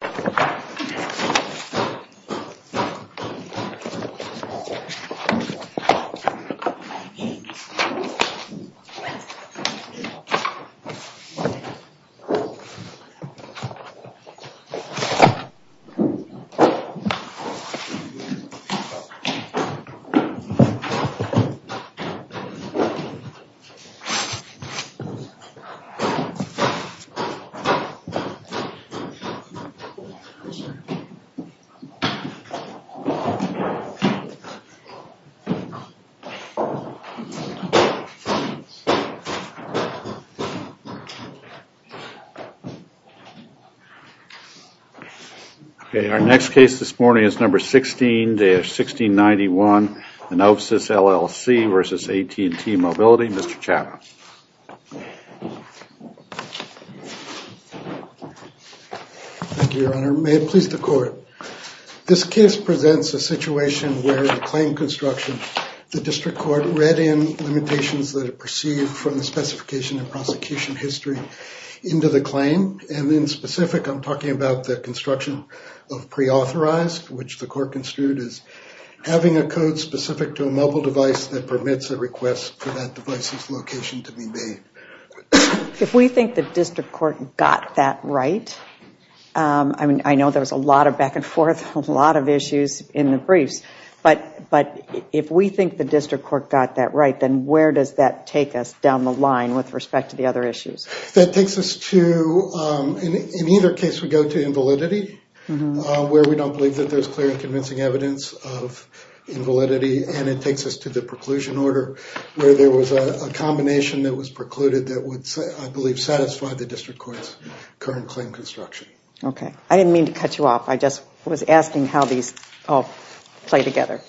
This is looking like aأ€€. Okay, our next case this morning is number 16-1691, Onopsis LLC versus AT&T Mobility, Mr. Chappell. Thank you, Your Honor. May it please the court. This case presents a situation where the claim construction, the district court read in limitations that are perceived from the specification and prosecution history into the claim. And in specific, I'm talking about the construction of pre-authorized, which the court construed as having a code specific to a mobile device that permits a request for that device's location to be made. If we think the district court got that right, I mean, I know there's a lot of back and forth, a lot of issues in the briefs, but if we think the district court got that right, then where does that take us down the line with respect to the other issues? That takes us to, in either case, we go to invalidity, where we don't believe that there's clear and convincing evidence of invalidity, and it takes us to the preclusion order, where there was a combination that was precluded that would, I believe, satisfy the district court's current claim construction. Okay. I didn't mean to cut you off. I just was asking how these all play together.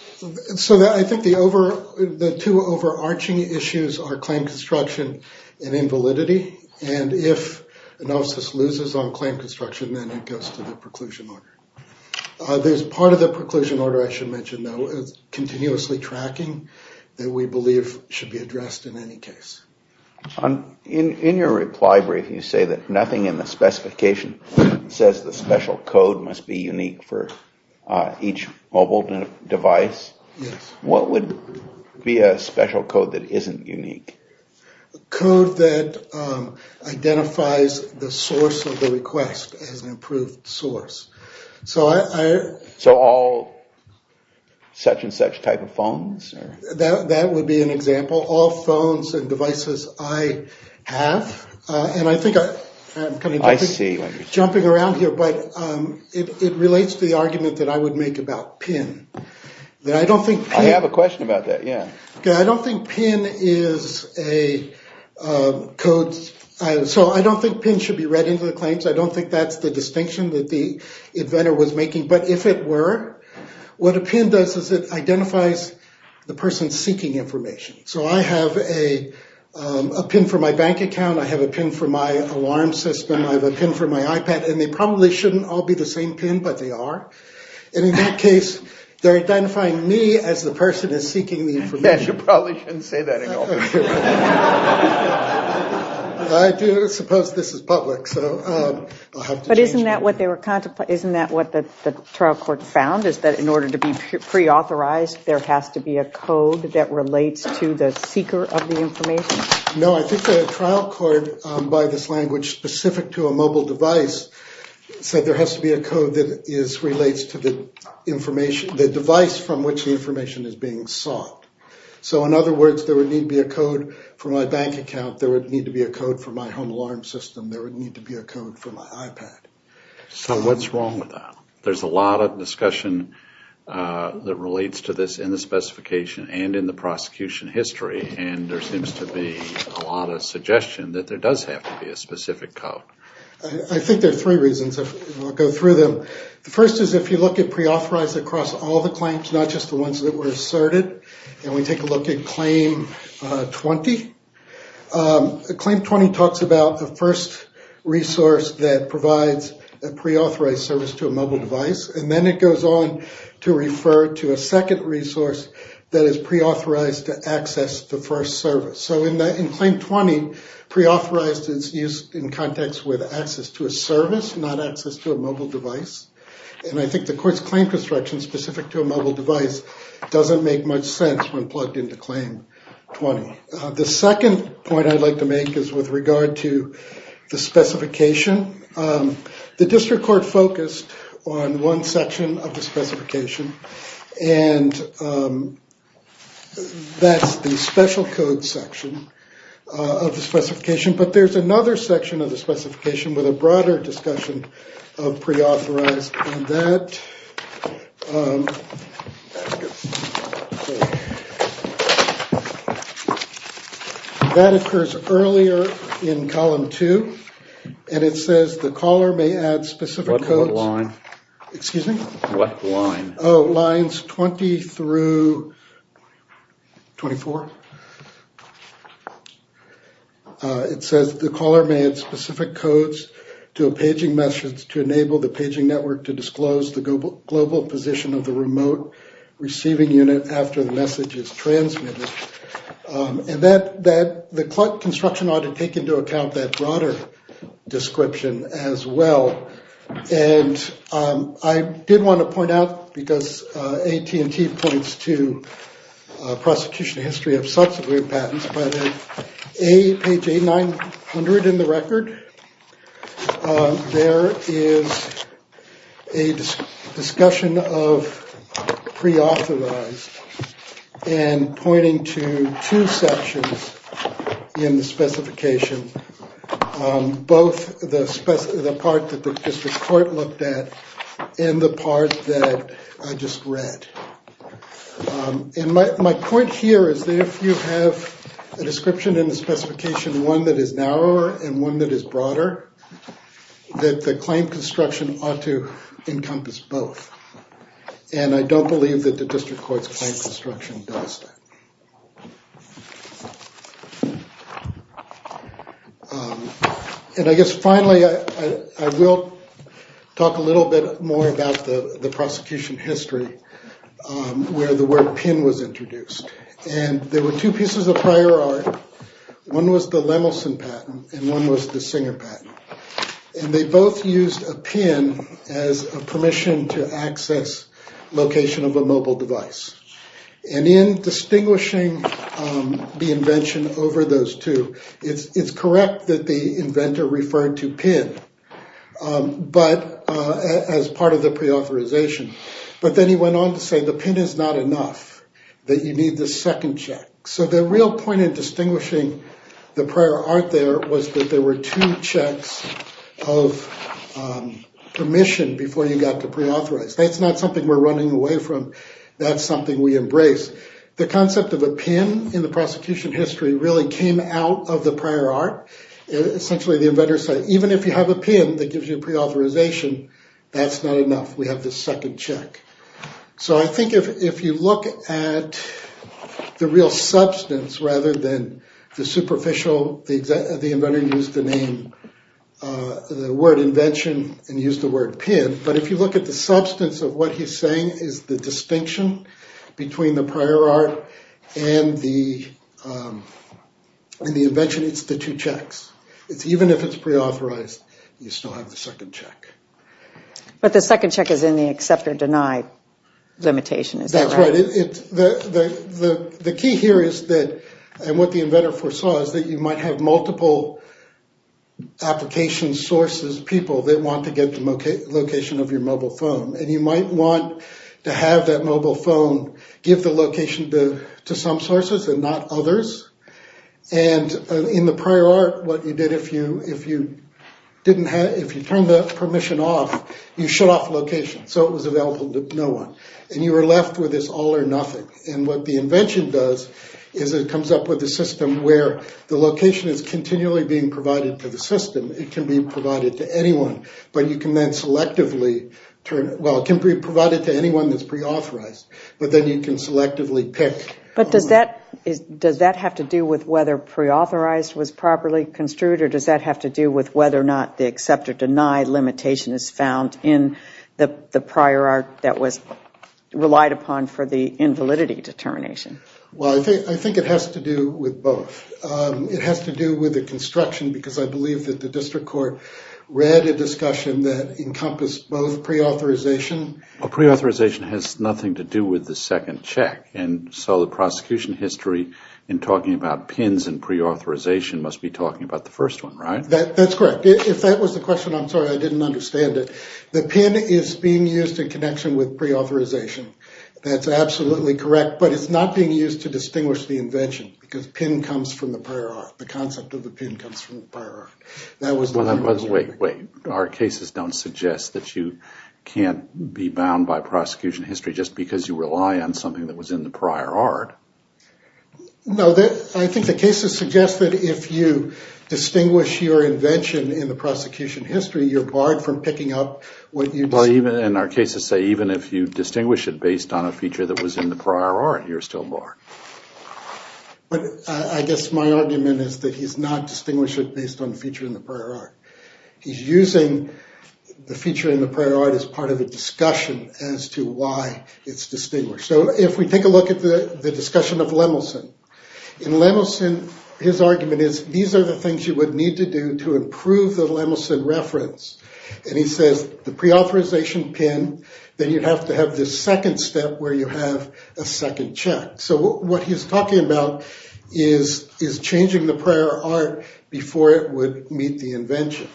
So I think the two overarching issues are claim construction and invalidity, and if Onopsis loses on claim construction, then it goes to the preclusion order. There's part of the preclusion order I should mention, though, is continuously tracking that we believe should be addressed in any case. In your reply brief, you say that nothing in the specification says the special code must be unique for each mobile device. What would be a special code that isn't unique? A code that identifies the source of the request as an approved source. So all such-and-such type of phones? That would be an example. All phones and devices I have, and I think I'm kind of jumping around here, but it relates to the argument that I would make about PIN. I have a question about that, yeah. I don't think PIN is a code. So I don't think PIN should be read into the claims. I don't think that's the distinction that the inventor was making. But if it were, what a PIN does is it identifies the person seeking information. So I have a PIN for my bank account, I have a PIN for my alarm system, I have a PIN for my iPad, and they probably shouldn't all be the same PIN, but they are. And in that case, they're identifying me as the person who's seeking the information. Yes, you probably shouldn't say that at all. I do suppose this is public, so I'll have to change that. But isn't that what the trial court found, is that in order to be pre-authorized, there has to be a code that relates to the seeker of the information? No, I think the trial court, by this language specific to a mobile device, said there has to be a code that relates to the device from which the information is being sought. So in other words, there would need to be a code for my bank account, there would need to be a code for my home alarm system, there would need to be a code for my iPad. So what's wrong with that? There's a lot of discussion that relates to this in the specification and in the prosecution history, and there seems to be a lot of suggestion that there does have to be a specific code. I think there are three reasons, I'll go through them. The first is if you look at pre-authorized across all the claims, not just the ones that were asserted, and we take a look at claim 20. Claim 20 talks about the first resource that provides a pre-authorized service to a mobile device, and then it goes on to refer to a second resource that is pre-authorized to access the first service. So in claim 20, pre-authorized is used in context with access to a service, not access to a mobile device, and I think the court's claim construction specific to a mobile device doesn't make much sense when plugged into claim 20. The second point I'd like to make is with regard to the specification. The district court focused on one section of the specification, and that's the special code section of the specification, but there's another section of the specification with a broader discussion of pre-authorized, and that occurs earlier in column 2, and it says the caller may add specific codes to a paging message to enable the paging network to disclose the global position of the remote receiving unit after the message is transmitted, and the construction ought to take into account that broader description as well, and I did want to point out, because AT&T points to prosecution history of subsequent patents, but at page 800 in the record, there is a discussion of pre-authorized and pointing to two sections in the specification, both the part that the district court looked at and the part that I just read, and my point here is that if you have a description in the specification, one that is narrower and one that is broader, that the claim construction ought to encompass both, and I don't believe that the district court's claim construction does that. And I guess finally, I will talk a little bit more about the prosecution history where the word PIN was introduced, and there were two pieces of prior art, one was the Lemelson patent and one was the Singer patent, and they both used a PIN as a permission to access location of a mobile device, and in distinguishing the invention over those two, it's correct that the inventor referred to PIN as part of the pre-authorization, but then he went on to say the PIN is not enough, that you need the second check, so the real point in distinguishing the prior art there was that there were two checks of permission before you got to pre-authorize, that's not something we're running away from, that's something we embrace. The concept of a PIN in the prosecution history really came out of the prior art, essentially the inventor said even if you have a PIN that gives you pre-authorization, that's not enough, we have the second check. So I think if you look at the real substance rather than the superficial, the inventor used the name, the word invention and used the word PIN, but if you look at the substance of what he's saying is the distinction between the prior art and the invention, it's the two checks. Even if it's pre-authorized, you still have the second check. But the second check is in the accept or deny limitation, is that right? That's right. The key here is that, and what the inventor foresaw, is that you might have multiple application sources, people that want to get the location of your mobile phone, and you might want to have that mobile phone give the location to some sources and not others, and in the prior art what you did if you didn't have, if you turned the permission off, you shut off location, so it was available to no one. And you were left with this all or nothing. And what the invention does is it comes up with a system where the location is continually being provided to the system, it can be provided to anyone, but you can then selectively, well, it can be provided to anyone that's pre-authorized, but then you can selectively pick. But does that have to do with whether pre-authorized was properly construed or does that have to do with whether or not the accept or deny limitation is found in the prior art that was relied upon for the invalidity determination? Well, I think it has to do with both. It has to do with the construction because I believe that the district court read a discussion that encompassed both pre-authorization. Well, pre-authorization has nothing to do with the second check, and so the prosecution history in talking about PINs and pre-authorization must be talking about the first one, right? That's correct. If that was the question, I'm sorry, I didn't understand it. The PIN is being used in connection with pre-authorization. That's absolutely correct, but it's not being used to distinguish the invention because PIN comes from the prior art. The concept of the PIN comes from the prior art. Wait, wait. Our cases don't suggest that you can't be bound by prosecution history just because you rely on something that was in the prior art. No, I think the cases suggest that if you distinguish your invention in the prosecution history, you're barred from picking up what you... Well, even in our cases say even if you distinguish it based on a feature that was in the prior art, you're still barred. But I guess my argument is that he's not distinguishing based on a feature in the prior art. He's using the feature in the prior art as part of a discussion as to why it's distinguished. So if we take a look at the discussion of Lemelson. In Lemelson, his argument is these are the things you would need to do to improve the Lemelson reference. And he says the pre-authorization PIN, then you'd have to have this second step where you have a second check. So what he's talking about is changing the prior art before it would meet the invention.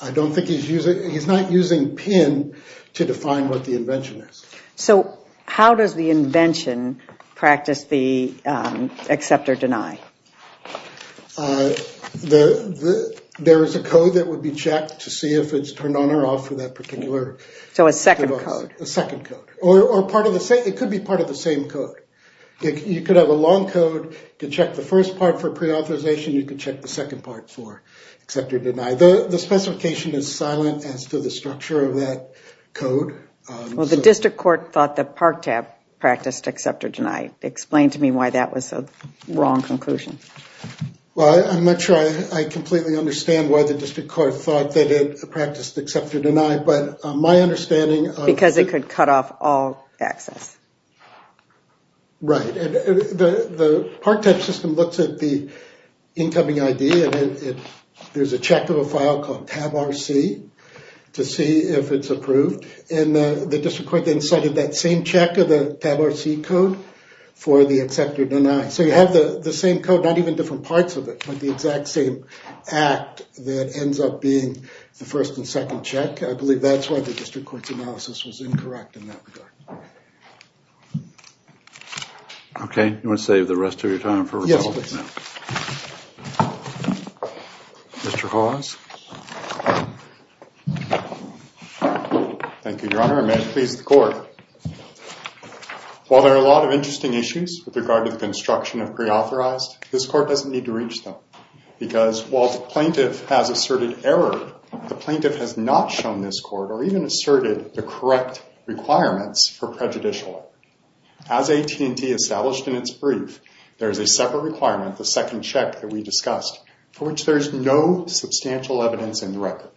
I don't think he's using... He's not using PIN to define what the invention is. So how does the invention practice the accept or deny? There is a code that would be checked to see if it's turned on or off for that particular... So a second code. A second code. Or part of the same. It could be part of the same code. You could have a long code to check the first part for pre-authorization. You could check the second part for accept or deny. The specification is silent as to the structure of that code. Well, the district court thought that ParkTap practiced accept or deny. Explain to me why that was the wrong conclusion. Well, I'm not sure I completely understand why the district court thought that it practiced accept or deny, but my understanding... Because it could cut off all access. Right. The ParkTap system looks at the incoming ID and there's a check of a file called TabRC to see if it's approved. And the district court then cited that same check of the TabRC code for the accept or deny. So you have the same code, not even different parts of it, but the exact same act that ends up being the first and second check. I believe that's why the district court's analysis was incorrect in that regard. Okay. You want to save the rest of your time for rebuttal? Yes, please. Mr. Hawes. Thank you, Your Honor. And may it please the court. While there are a lot of interesting issues with regard to the construction of preauthorized, this court doesn't need to reach them. Because while the plaintiff has asserted error, the plaintiff has not shown this court or even asserted the correct requirements for prejudicial evidence at all. As AT&T established in its brief, there's a separate requirement, the second check that we discussed, for which there's no substantial evidence in the record.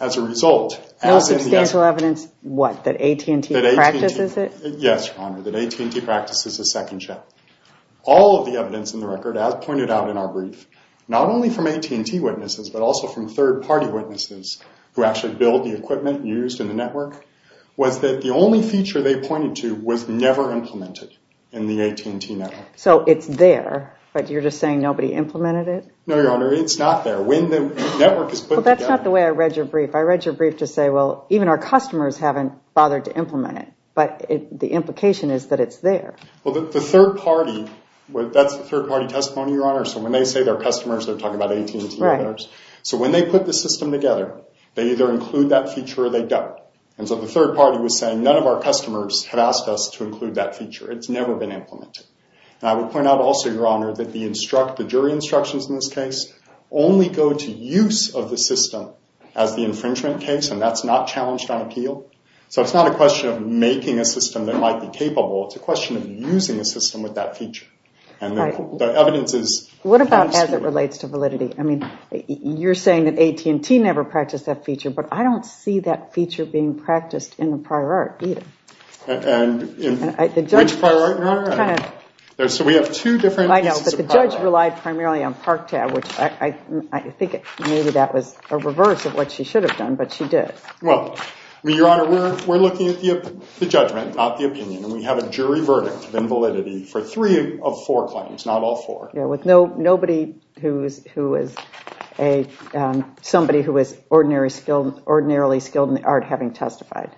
As a result... No substantial evidence what? That AT&T practices it? Yes, Your Honor. That AT&T practices the second check. All of the evidence in the record, as pointed out in our brief, not only from AT&T witnesses, but also from third-party witnesses who actually build the equipment used in the network, was that the only feature they pointed to was never implemented in the AT&T network. So it's there, but you're just saying nobody implemented it? No, Your Honor. It's not there. When the network is put together... Well, that's not the way I read your brief. I read your brief to say, well, even our customers haven't bothered to implement it. But the implication is that it's there. Well, the third-party, that's the third-party testimony, Your Honor. So when they say their customers, they're talking about AT&T. So when they put the system together, they either include that feature or they don't. And so the third-party was saying, none of our customers have asked us to include that feature. It's never been implemented. And I would point out also, Your Honor, that the jury instructions in this case only go to use of the system as the infringement case, and that's not challenged on appeal. So it's not a question of making a system that might be capable. It's a question of using a system with that feature. And the evidence is... What about as it relates to validity? I mean, you're saying that AT&T never practiced that feature, but I don't see that feature being practiced in the prior art either. Which prior art, Your Honor? So we have two different pieces of... I know, but the judge relied primarily on ParkTab, which I think maybe that was a reverse of what she should have done, but she did. Well, Your Honor, we're looking at the judgment, not the opinion, and we have a jury verdict of invalidity for three of four claims, not all four. Yeah, with nobody who is somebody who is ordinarily skilled in the art having testified.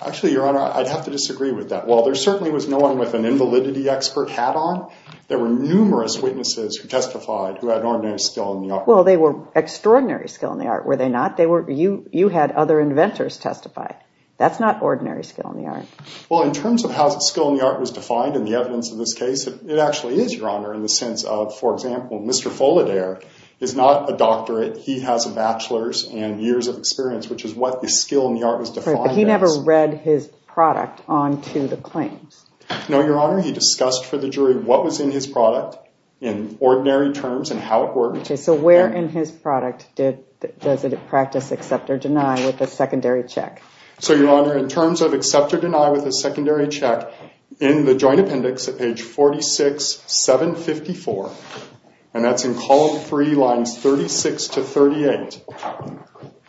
Actually, Your Honor, I'd have to disagree with that. While there certainly was no one with an invalidity expert hat on, there were numerous witnesses who testified who had ordinary skill in the art. Well, they were extraordinary skill in the art, were they not? You had other inventors testify. That's not ordinary skill in the art. Well, in terms of how skill in the art was defined in the evidence of this case, it actually is, Your Honor, in the sense of, for example, Mr. Follidaire is not a doctorate. He has a bachelor's and years of experience, which is what the skill in the art was defined as. But he never read his product onto the claims. No, Your Honor, he discussed for the jury what was in his product in ordinary terms and how it worked. Okay, so where in his product does it practice accept or deny with a secondary check? So, Your Honor, in terms of accept or deny with a secondary check, in the joint appendix at page 46, 754, and that's in column 3, lines 36 to 38,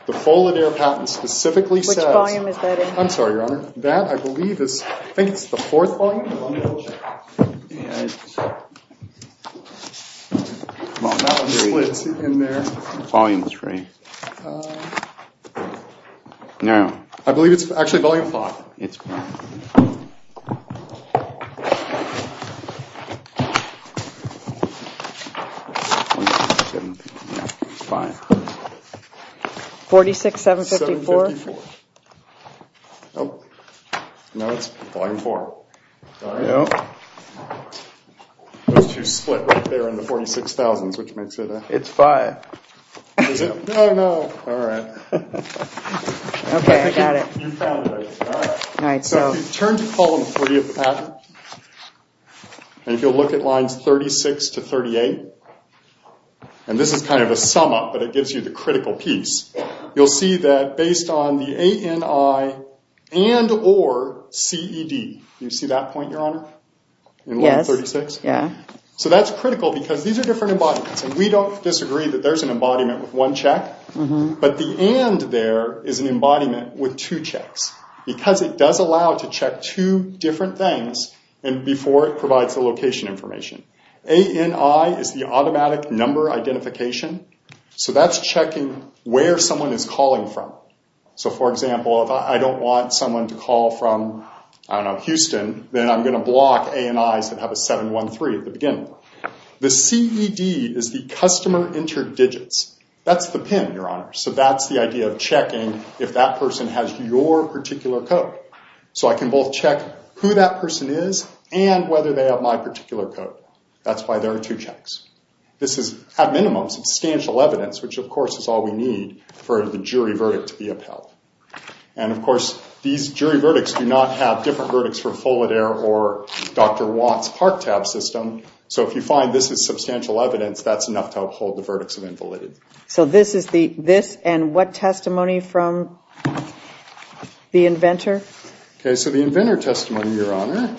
the Follidaire patent specifically says... Which volume is that in? I'm sorry, Your Honor. That, I believe, is... I think it's the fourth volume of unlawful check. That one splits in there. Volume 3. No. I believe it's actually volume 5. No, it's 5. 46, 754. No, it's volume 4. Those two split right there in the 46,000s, which makes it... It's 5. No, no. Alright. So, if you turn to column 3 of the patent, and if you'll look at lines 36 to 38, and this is kind of a sum up, but it gives you the critical piece. You'll see that based on the ANI and or CED. Do you see that point, Your Honor? Yes. So, that's critical because these are different embodiments, and we don't disagree that there's an embodiment with one check, but the AND there is an embodiment with two checks, because it does allow to check two different things before it provides the location information. ANI is the automatic number identification, so that's checking where someone is calling from. So, for example, if I don't want someone to call from, I don't know, Houston, then I'm going to block ANIs that have a 713 at the beginning. The CED is the customer interdigits. That's the PIN, Your Honor. So, that's the idea of checking if that person has your particular code. So, I can both check who that person is and whether they have my particular code. That's why there are two checks. This is, at minimum, substantial evidence, which, of course, is all we need for the jury verdict to be upheld. And, of course, these jury verdicts do not have different verdicts from Follett Air or Dr. Watt's ParkTab system. So, if you find this is substantial evidence, that's enough to uphold the verdicts of invalidity. So, this and what testimony from the inventor? Okay. So, the inventor testimony, Your Honor,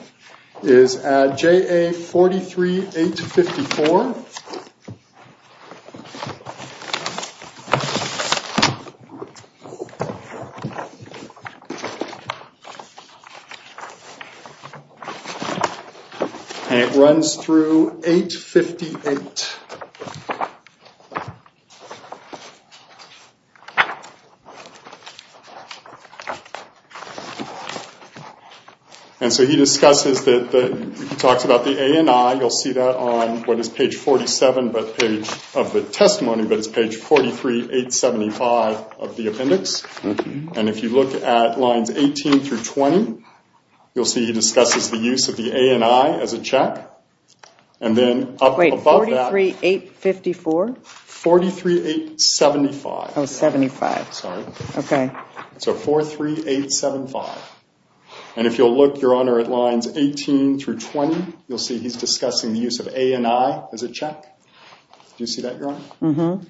is at JA43-854. And it runs through 858. And so, he discusses that, he talks about the ANI. You'll see that on what is page 47 of the testimony, but it's page 43-875 of the appendix. And if you look at lines 18 through 20, you'll see he discusses the use of the ANI as a check. And then, up above that... Wait, 43-854? 43-875. Oh, 75. Sorry. Okay. So, 43-875. And if you'll look, Your Honor, at lines 18 through 20, you'll see he's discussing the use of ANI as a check. Do you see that, Your Honor?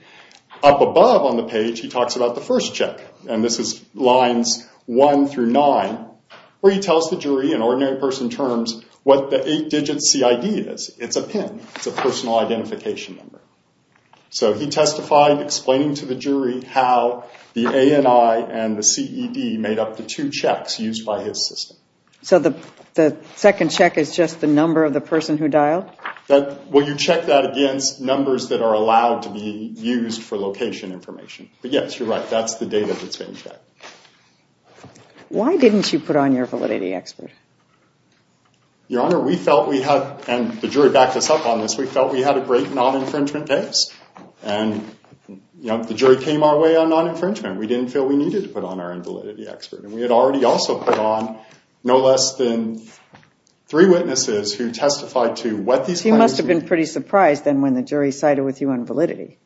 Up above on the page, he talks about the first check. And this is lines 1 through 9, where he tells the jury, in ordinary person terms, what the 8-digit CID is. It's a PIN. It's a personal identification number. So, he testified, explaining to the jury how the ANI and the CED made up the two checks used by his system. So, the second check is just the number of the person who dialed? Well, you check that against numbers that are allowed to be used for location information. But, yes, you're right. That's the data that's being checked. Why didn't you put on your validity expert? Your Honor, we felt we had, and the jury backed us up on this, we felt we had a great non-infringement case. And, you know, the jury came our way on non-infringement. We didn't feel we needed to put on our invalidity expert. And we had already also put on no less than three witnesses who testified to what these... Your Honor, you must have been pretty surprised then when the jury sided with you on validity.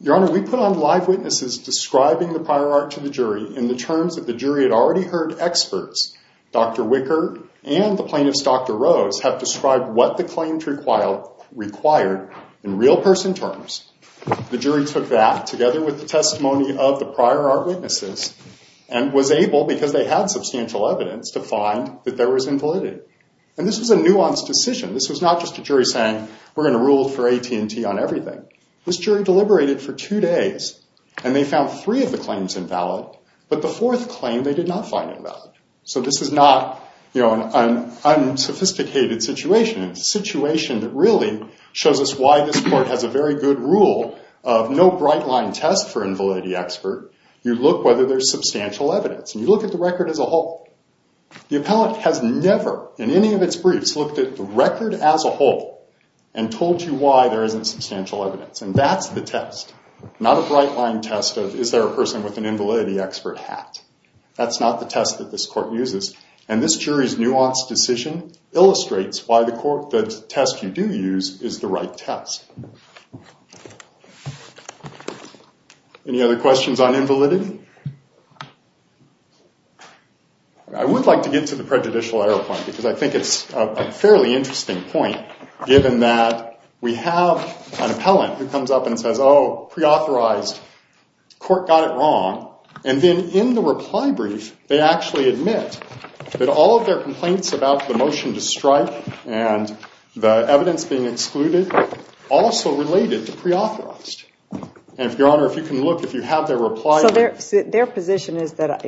Your Honor, we put on live witnesses describing the prior art to the jury in the terms that the jury had already heard experts. Dr. Wicker and the plaintiff's Dr. Rose have described what the claims required in real person terms. The jury took that together with the testimony of the prior art witnesses and was able, because they had not just a jury saying, we're going to rule for AT&T on everything. This jury deliberated for two days and they found three of the claims invalid, but the fourth claim they did not find invalid. So this is not, you know, an unsophisticated situation. It's a situation that really shows us why this Court has a very good rule of no bright line test for invalidity expert. You look whether there's substantial evidence. And you look at the record as a whole. The appellant has never, in any of its briefs, looked at the record as a whole and told you why there isn't substantial evidence. And that's the test, not a bright line test of is there a person with an invalidity expert hat. That's not the test that this Court uses. And this jury's nuanced decision illustrates why the test you do use is the right test. Any other questions on invalidity? I would like to get to the prejudicial error point, because I think it's a fairly interesting point, given that we have an appellant who comes up and says, oh, preauthorized. Court got it wrong. And then in the reply brief, they actually admit that all of their complaints about the motion to strike and the evidence being excluded, also related to preauthorized. And if Your Honor, if you can look, if you have their reply brief. So their position is that,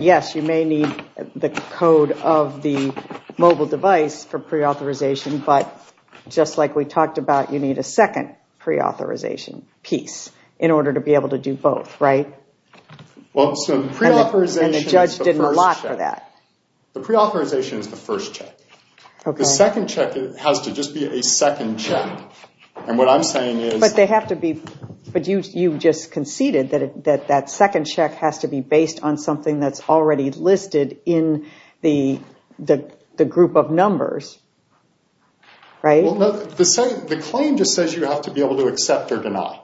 yes, you may need the code of the mobile device for preauthorization, but just like we talked about, you need a second preauthorization piece in order to be able to do both, right? Well, so the preauthorization is the first check. The preauthorization is the first check. The second check has to just be a second check. And what I'm saying is... But you just conceded that that second check has to be based on something that's already listed in the group of numbers, right? The claim just says you have to be able to accept or deny.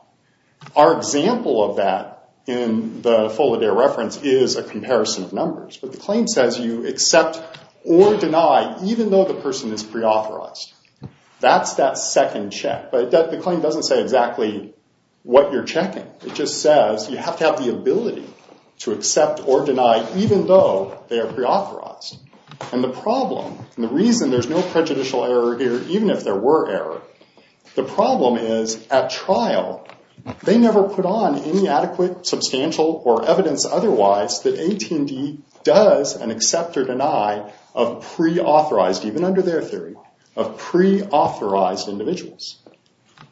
Our example of that in the Folliday reference is a comparison of numbers. But the claim says you accept or deny, even though the person is preauthorized. That's that second check. But the claim doesn't say exactly what you're checking. It just says you have to have the ability to accept or deny, even though they are preauthorized. And the problem, and the reason there's no prejudicial error here, even if there were error, the problem is, at trial, they never put on any adequate substantial or evidence otherwise that AT&T does an accept or deny of preauthorized, even under their theory, of preauthorized individuals.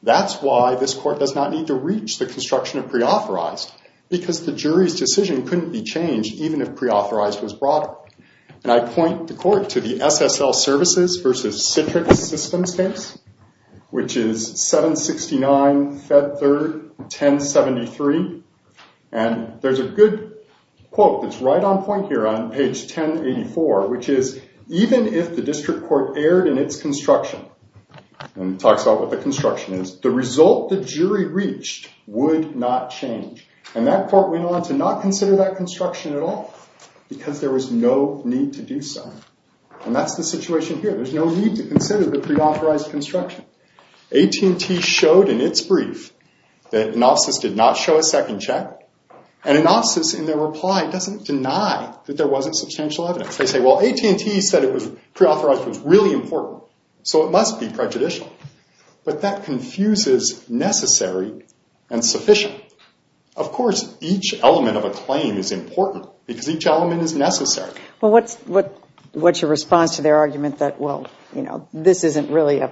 That's why this court does not need to reach the construction of preauthorized because the jury's decision couldn't be changed, even if preauthorized was brought up. And I point the court to the SSL Services versus Citrix Systems case, which is 769, Fed 3rd, 1073. And there's a good quote that's right on point here on page 1084, which is, even if the district court erred in its construction, and talks about what the construction is, the result the jury reached would not change. And that court went on to not consider that construction at all, because there was no need to do so. And that's the situation here. There's no need to consider the preauthorized construction. AT&T showed in its brief that Anopsis did not show a second check, and Anopsis, in their reply, doesn't deny that there wasn't substantial evidence. They say, well, AT&T said preauthorized was really important, so it must be prejudicial. But that confuses necessary and sufficient. Of course, each element of a claim is important, because each element is necessary. What's your response to their argument that, well, this isn't really a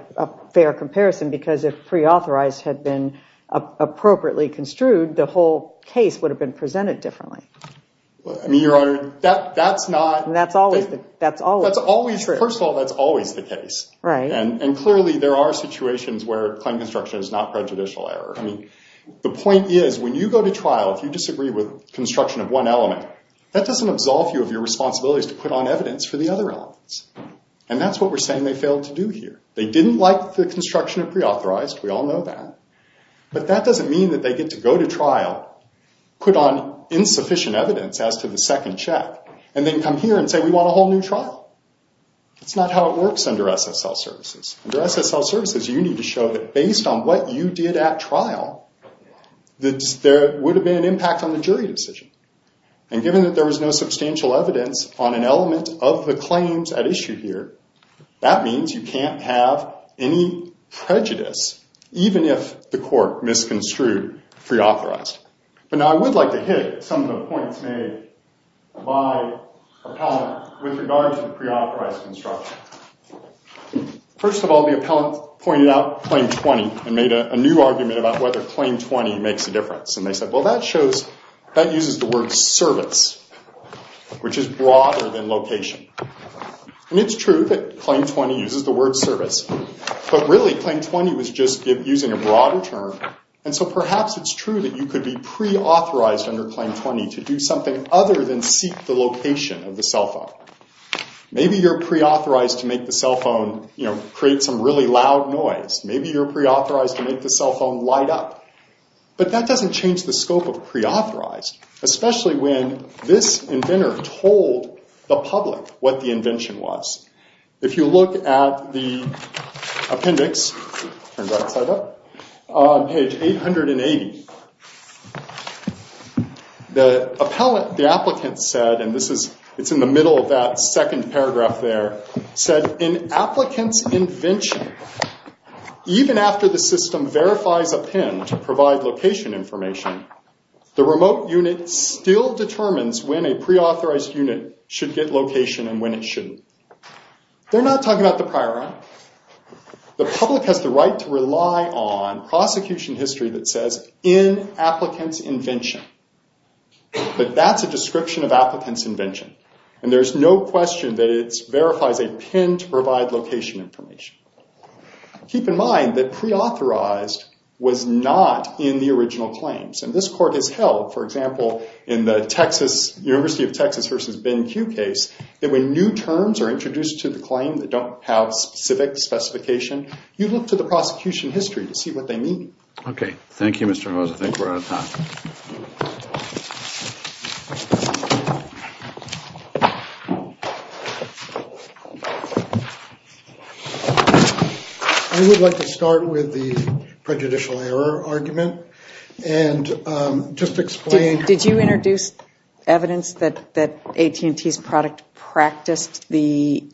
fair comparison, because if preauthorized had been appropriately construed, the whole case would have been presented differently? I mean, Your Honor, that's not... First of all, that's always the case. And clearly, there are situations where claim construction is not prejudicial error. I mean, the point is, when you go to trial, if you disagree with construction of one element, that doesn't absolve you of your responsibilities to put on evidence for the other elements. And that's what we're saying they failed to do here. They didn't like the construction of preauthorized. We all know that. But that doesn't mean that they get to go to trial, put on insufficient evidence as to the second check, and then come here and say, we want a whole new trial. That's not how it works under SSL Services. Under SSL Services, you need to show that based on what you did at trial, that there would have been an impact on the jury decision. And given that there was no substantial evidence on an element of the claims at issue here, that means you can't have any prejudice, even if the court misconstrued preauthorized. But now, I would like to hit some of the points made by appellant with regard to preauthorized construction. First of all, the appellant pointed out Claim 20 and made a new argument about whether Claim 20 makes a difference. And they said, well, that shows... which is broader than location. And it's true that Claim 20 uses the word service. But really, Claim 20 was just using a broader term. And so perhaps it's true that you could be preauthorized under Claim 20 to do something other than seek the location of the cell phone. Maybe you're preauthorized to make the cell phone create some really loud noise. Maybe you're preauthorized to make the cell phone light up. But that doesn't change the scope of preauthorized, especially when this inventor told the public what the invention was. If you look at the appendix on page 880, the appellant, the applicant said, and it's in the middle of that second paragraph there, said, in applicant's invention, even after the system verifies a PIN to provide location information, the remote unit still determines when a preauthorized unit should get location and when it shouldn't. They're not talking about the prior one. The public has the right to rely on prosecution history that says, in applicant's invention. But that's a description of applicant's invention. And there's no question that it verifies a PIN to provide location information. Keep in mind that preauthorized was not in the original claims. And this court has held, for example, in the Texas, University of Texas v. Ben Q case, that when new terms are introduced to the claim that don't have specific specification, you look to the prosecution history to see what they mean. Okay. Thank you, Mr. Hose. I think we're out of time. I would like to start with the prejudicial error argument. And just explain. Did you introduce evidence that AT&T's product practiced the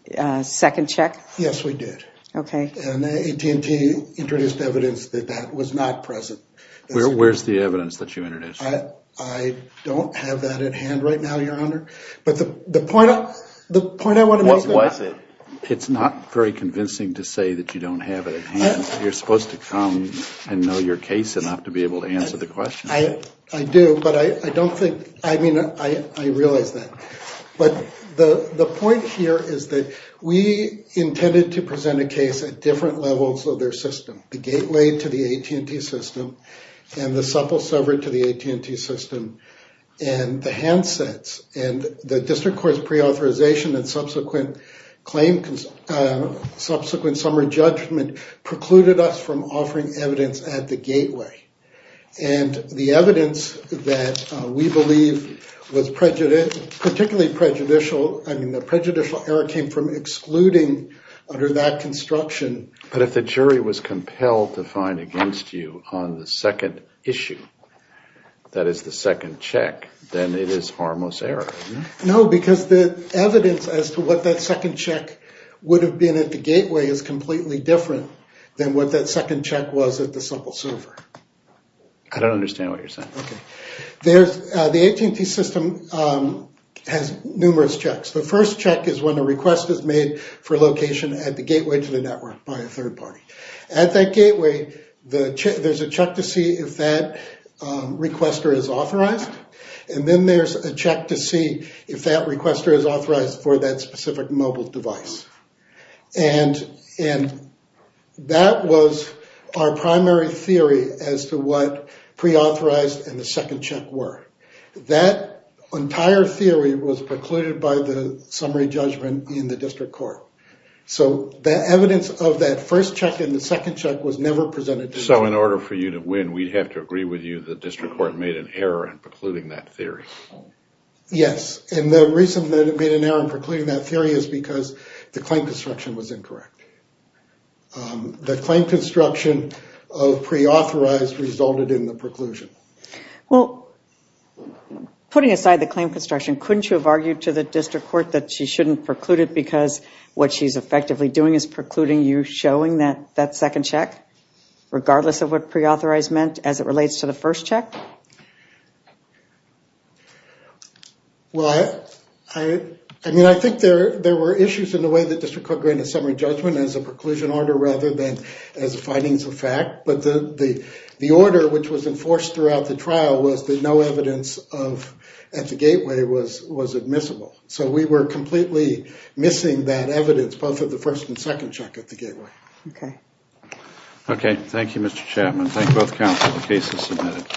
second check? Yes, we did. Okay. And AT&T introduced evidence that that was not present. Where's the evidence that you introduced? I don't have that at hand right now, Your Honor. But the point I want to make... What was it? It's not very convincing to say that you don't have it at hand. You're supposed to come and know your case enough to be able to answer the question. I do, but I don't think... I mean, I realize that. But the point here is that we intended to present a case at different levels of their system. The gate laid to the AT&T system and the supple severed to the AT&T system. And the handsets and the district court's preauthorization and subsequent claim, subsequent summer judgment precluded us from offering evidence at the gateway. And the evidence that we believe was particularly prejudicial. I mean, the prejudicial error came from excluding under that construction. But if the jury was compelled to find against you on the second issue, that is the second check, then it is harmless error. No, because the evidence as to what that second check would have been at the gateway. I don't understand what you're saying. The AT&T system has numerous checks. The first check is when a request is made for location at the gateway to the network by a third party. At that gateway, there's a check to see if that requester is authorized. And then there's a check to see if that requester is authorized for that specific mobile device. And that was our primary theory as to what preauthorized and the second check were. That entire theory was precluded by the summary judgment in the district court. So the evidence of that first check and the second check was never presented. So in order for you to win, we'd have to agree with you that district court made an error in precluding that theory. Yes, and the reason that it made an error in precluding that theory is because the claim construction was incorrect. The claim construction of preauthorized resulted in the preclusion. Putting aside the claim construction, couldn't you have argued to the district court that she shouldn't preclude it because what she's effectively doing is precluding you showing that second check? Regardless of what preauthorized meant as it relates to the first check? I think there were issues in the way the district court granted summary judgment as a preclusion order rather than as a findings of fact. But the order which was enforced throughout the trial was that no evidence at the gateway was admissible. So we were Okay. Thank you, Mr. Chairman. Thank both counsel. The case is submitted.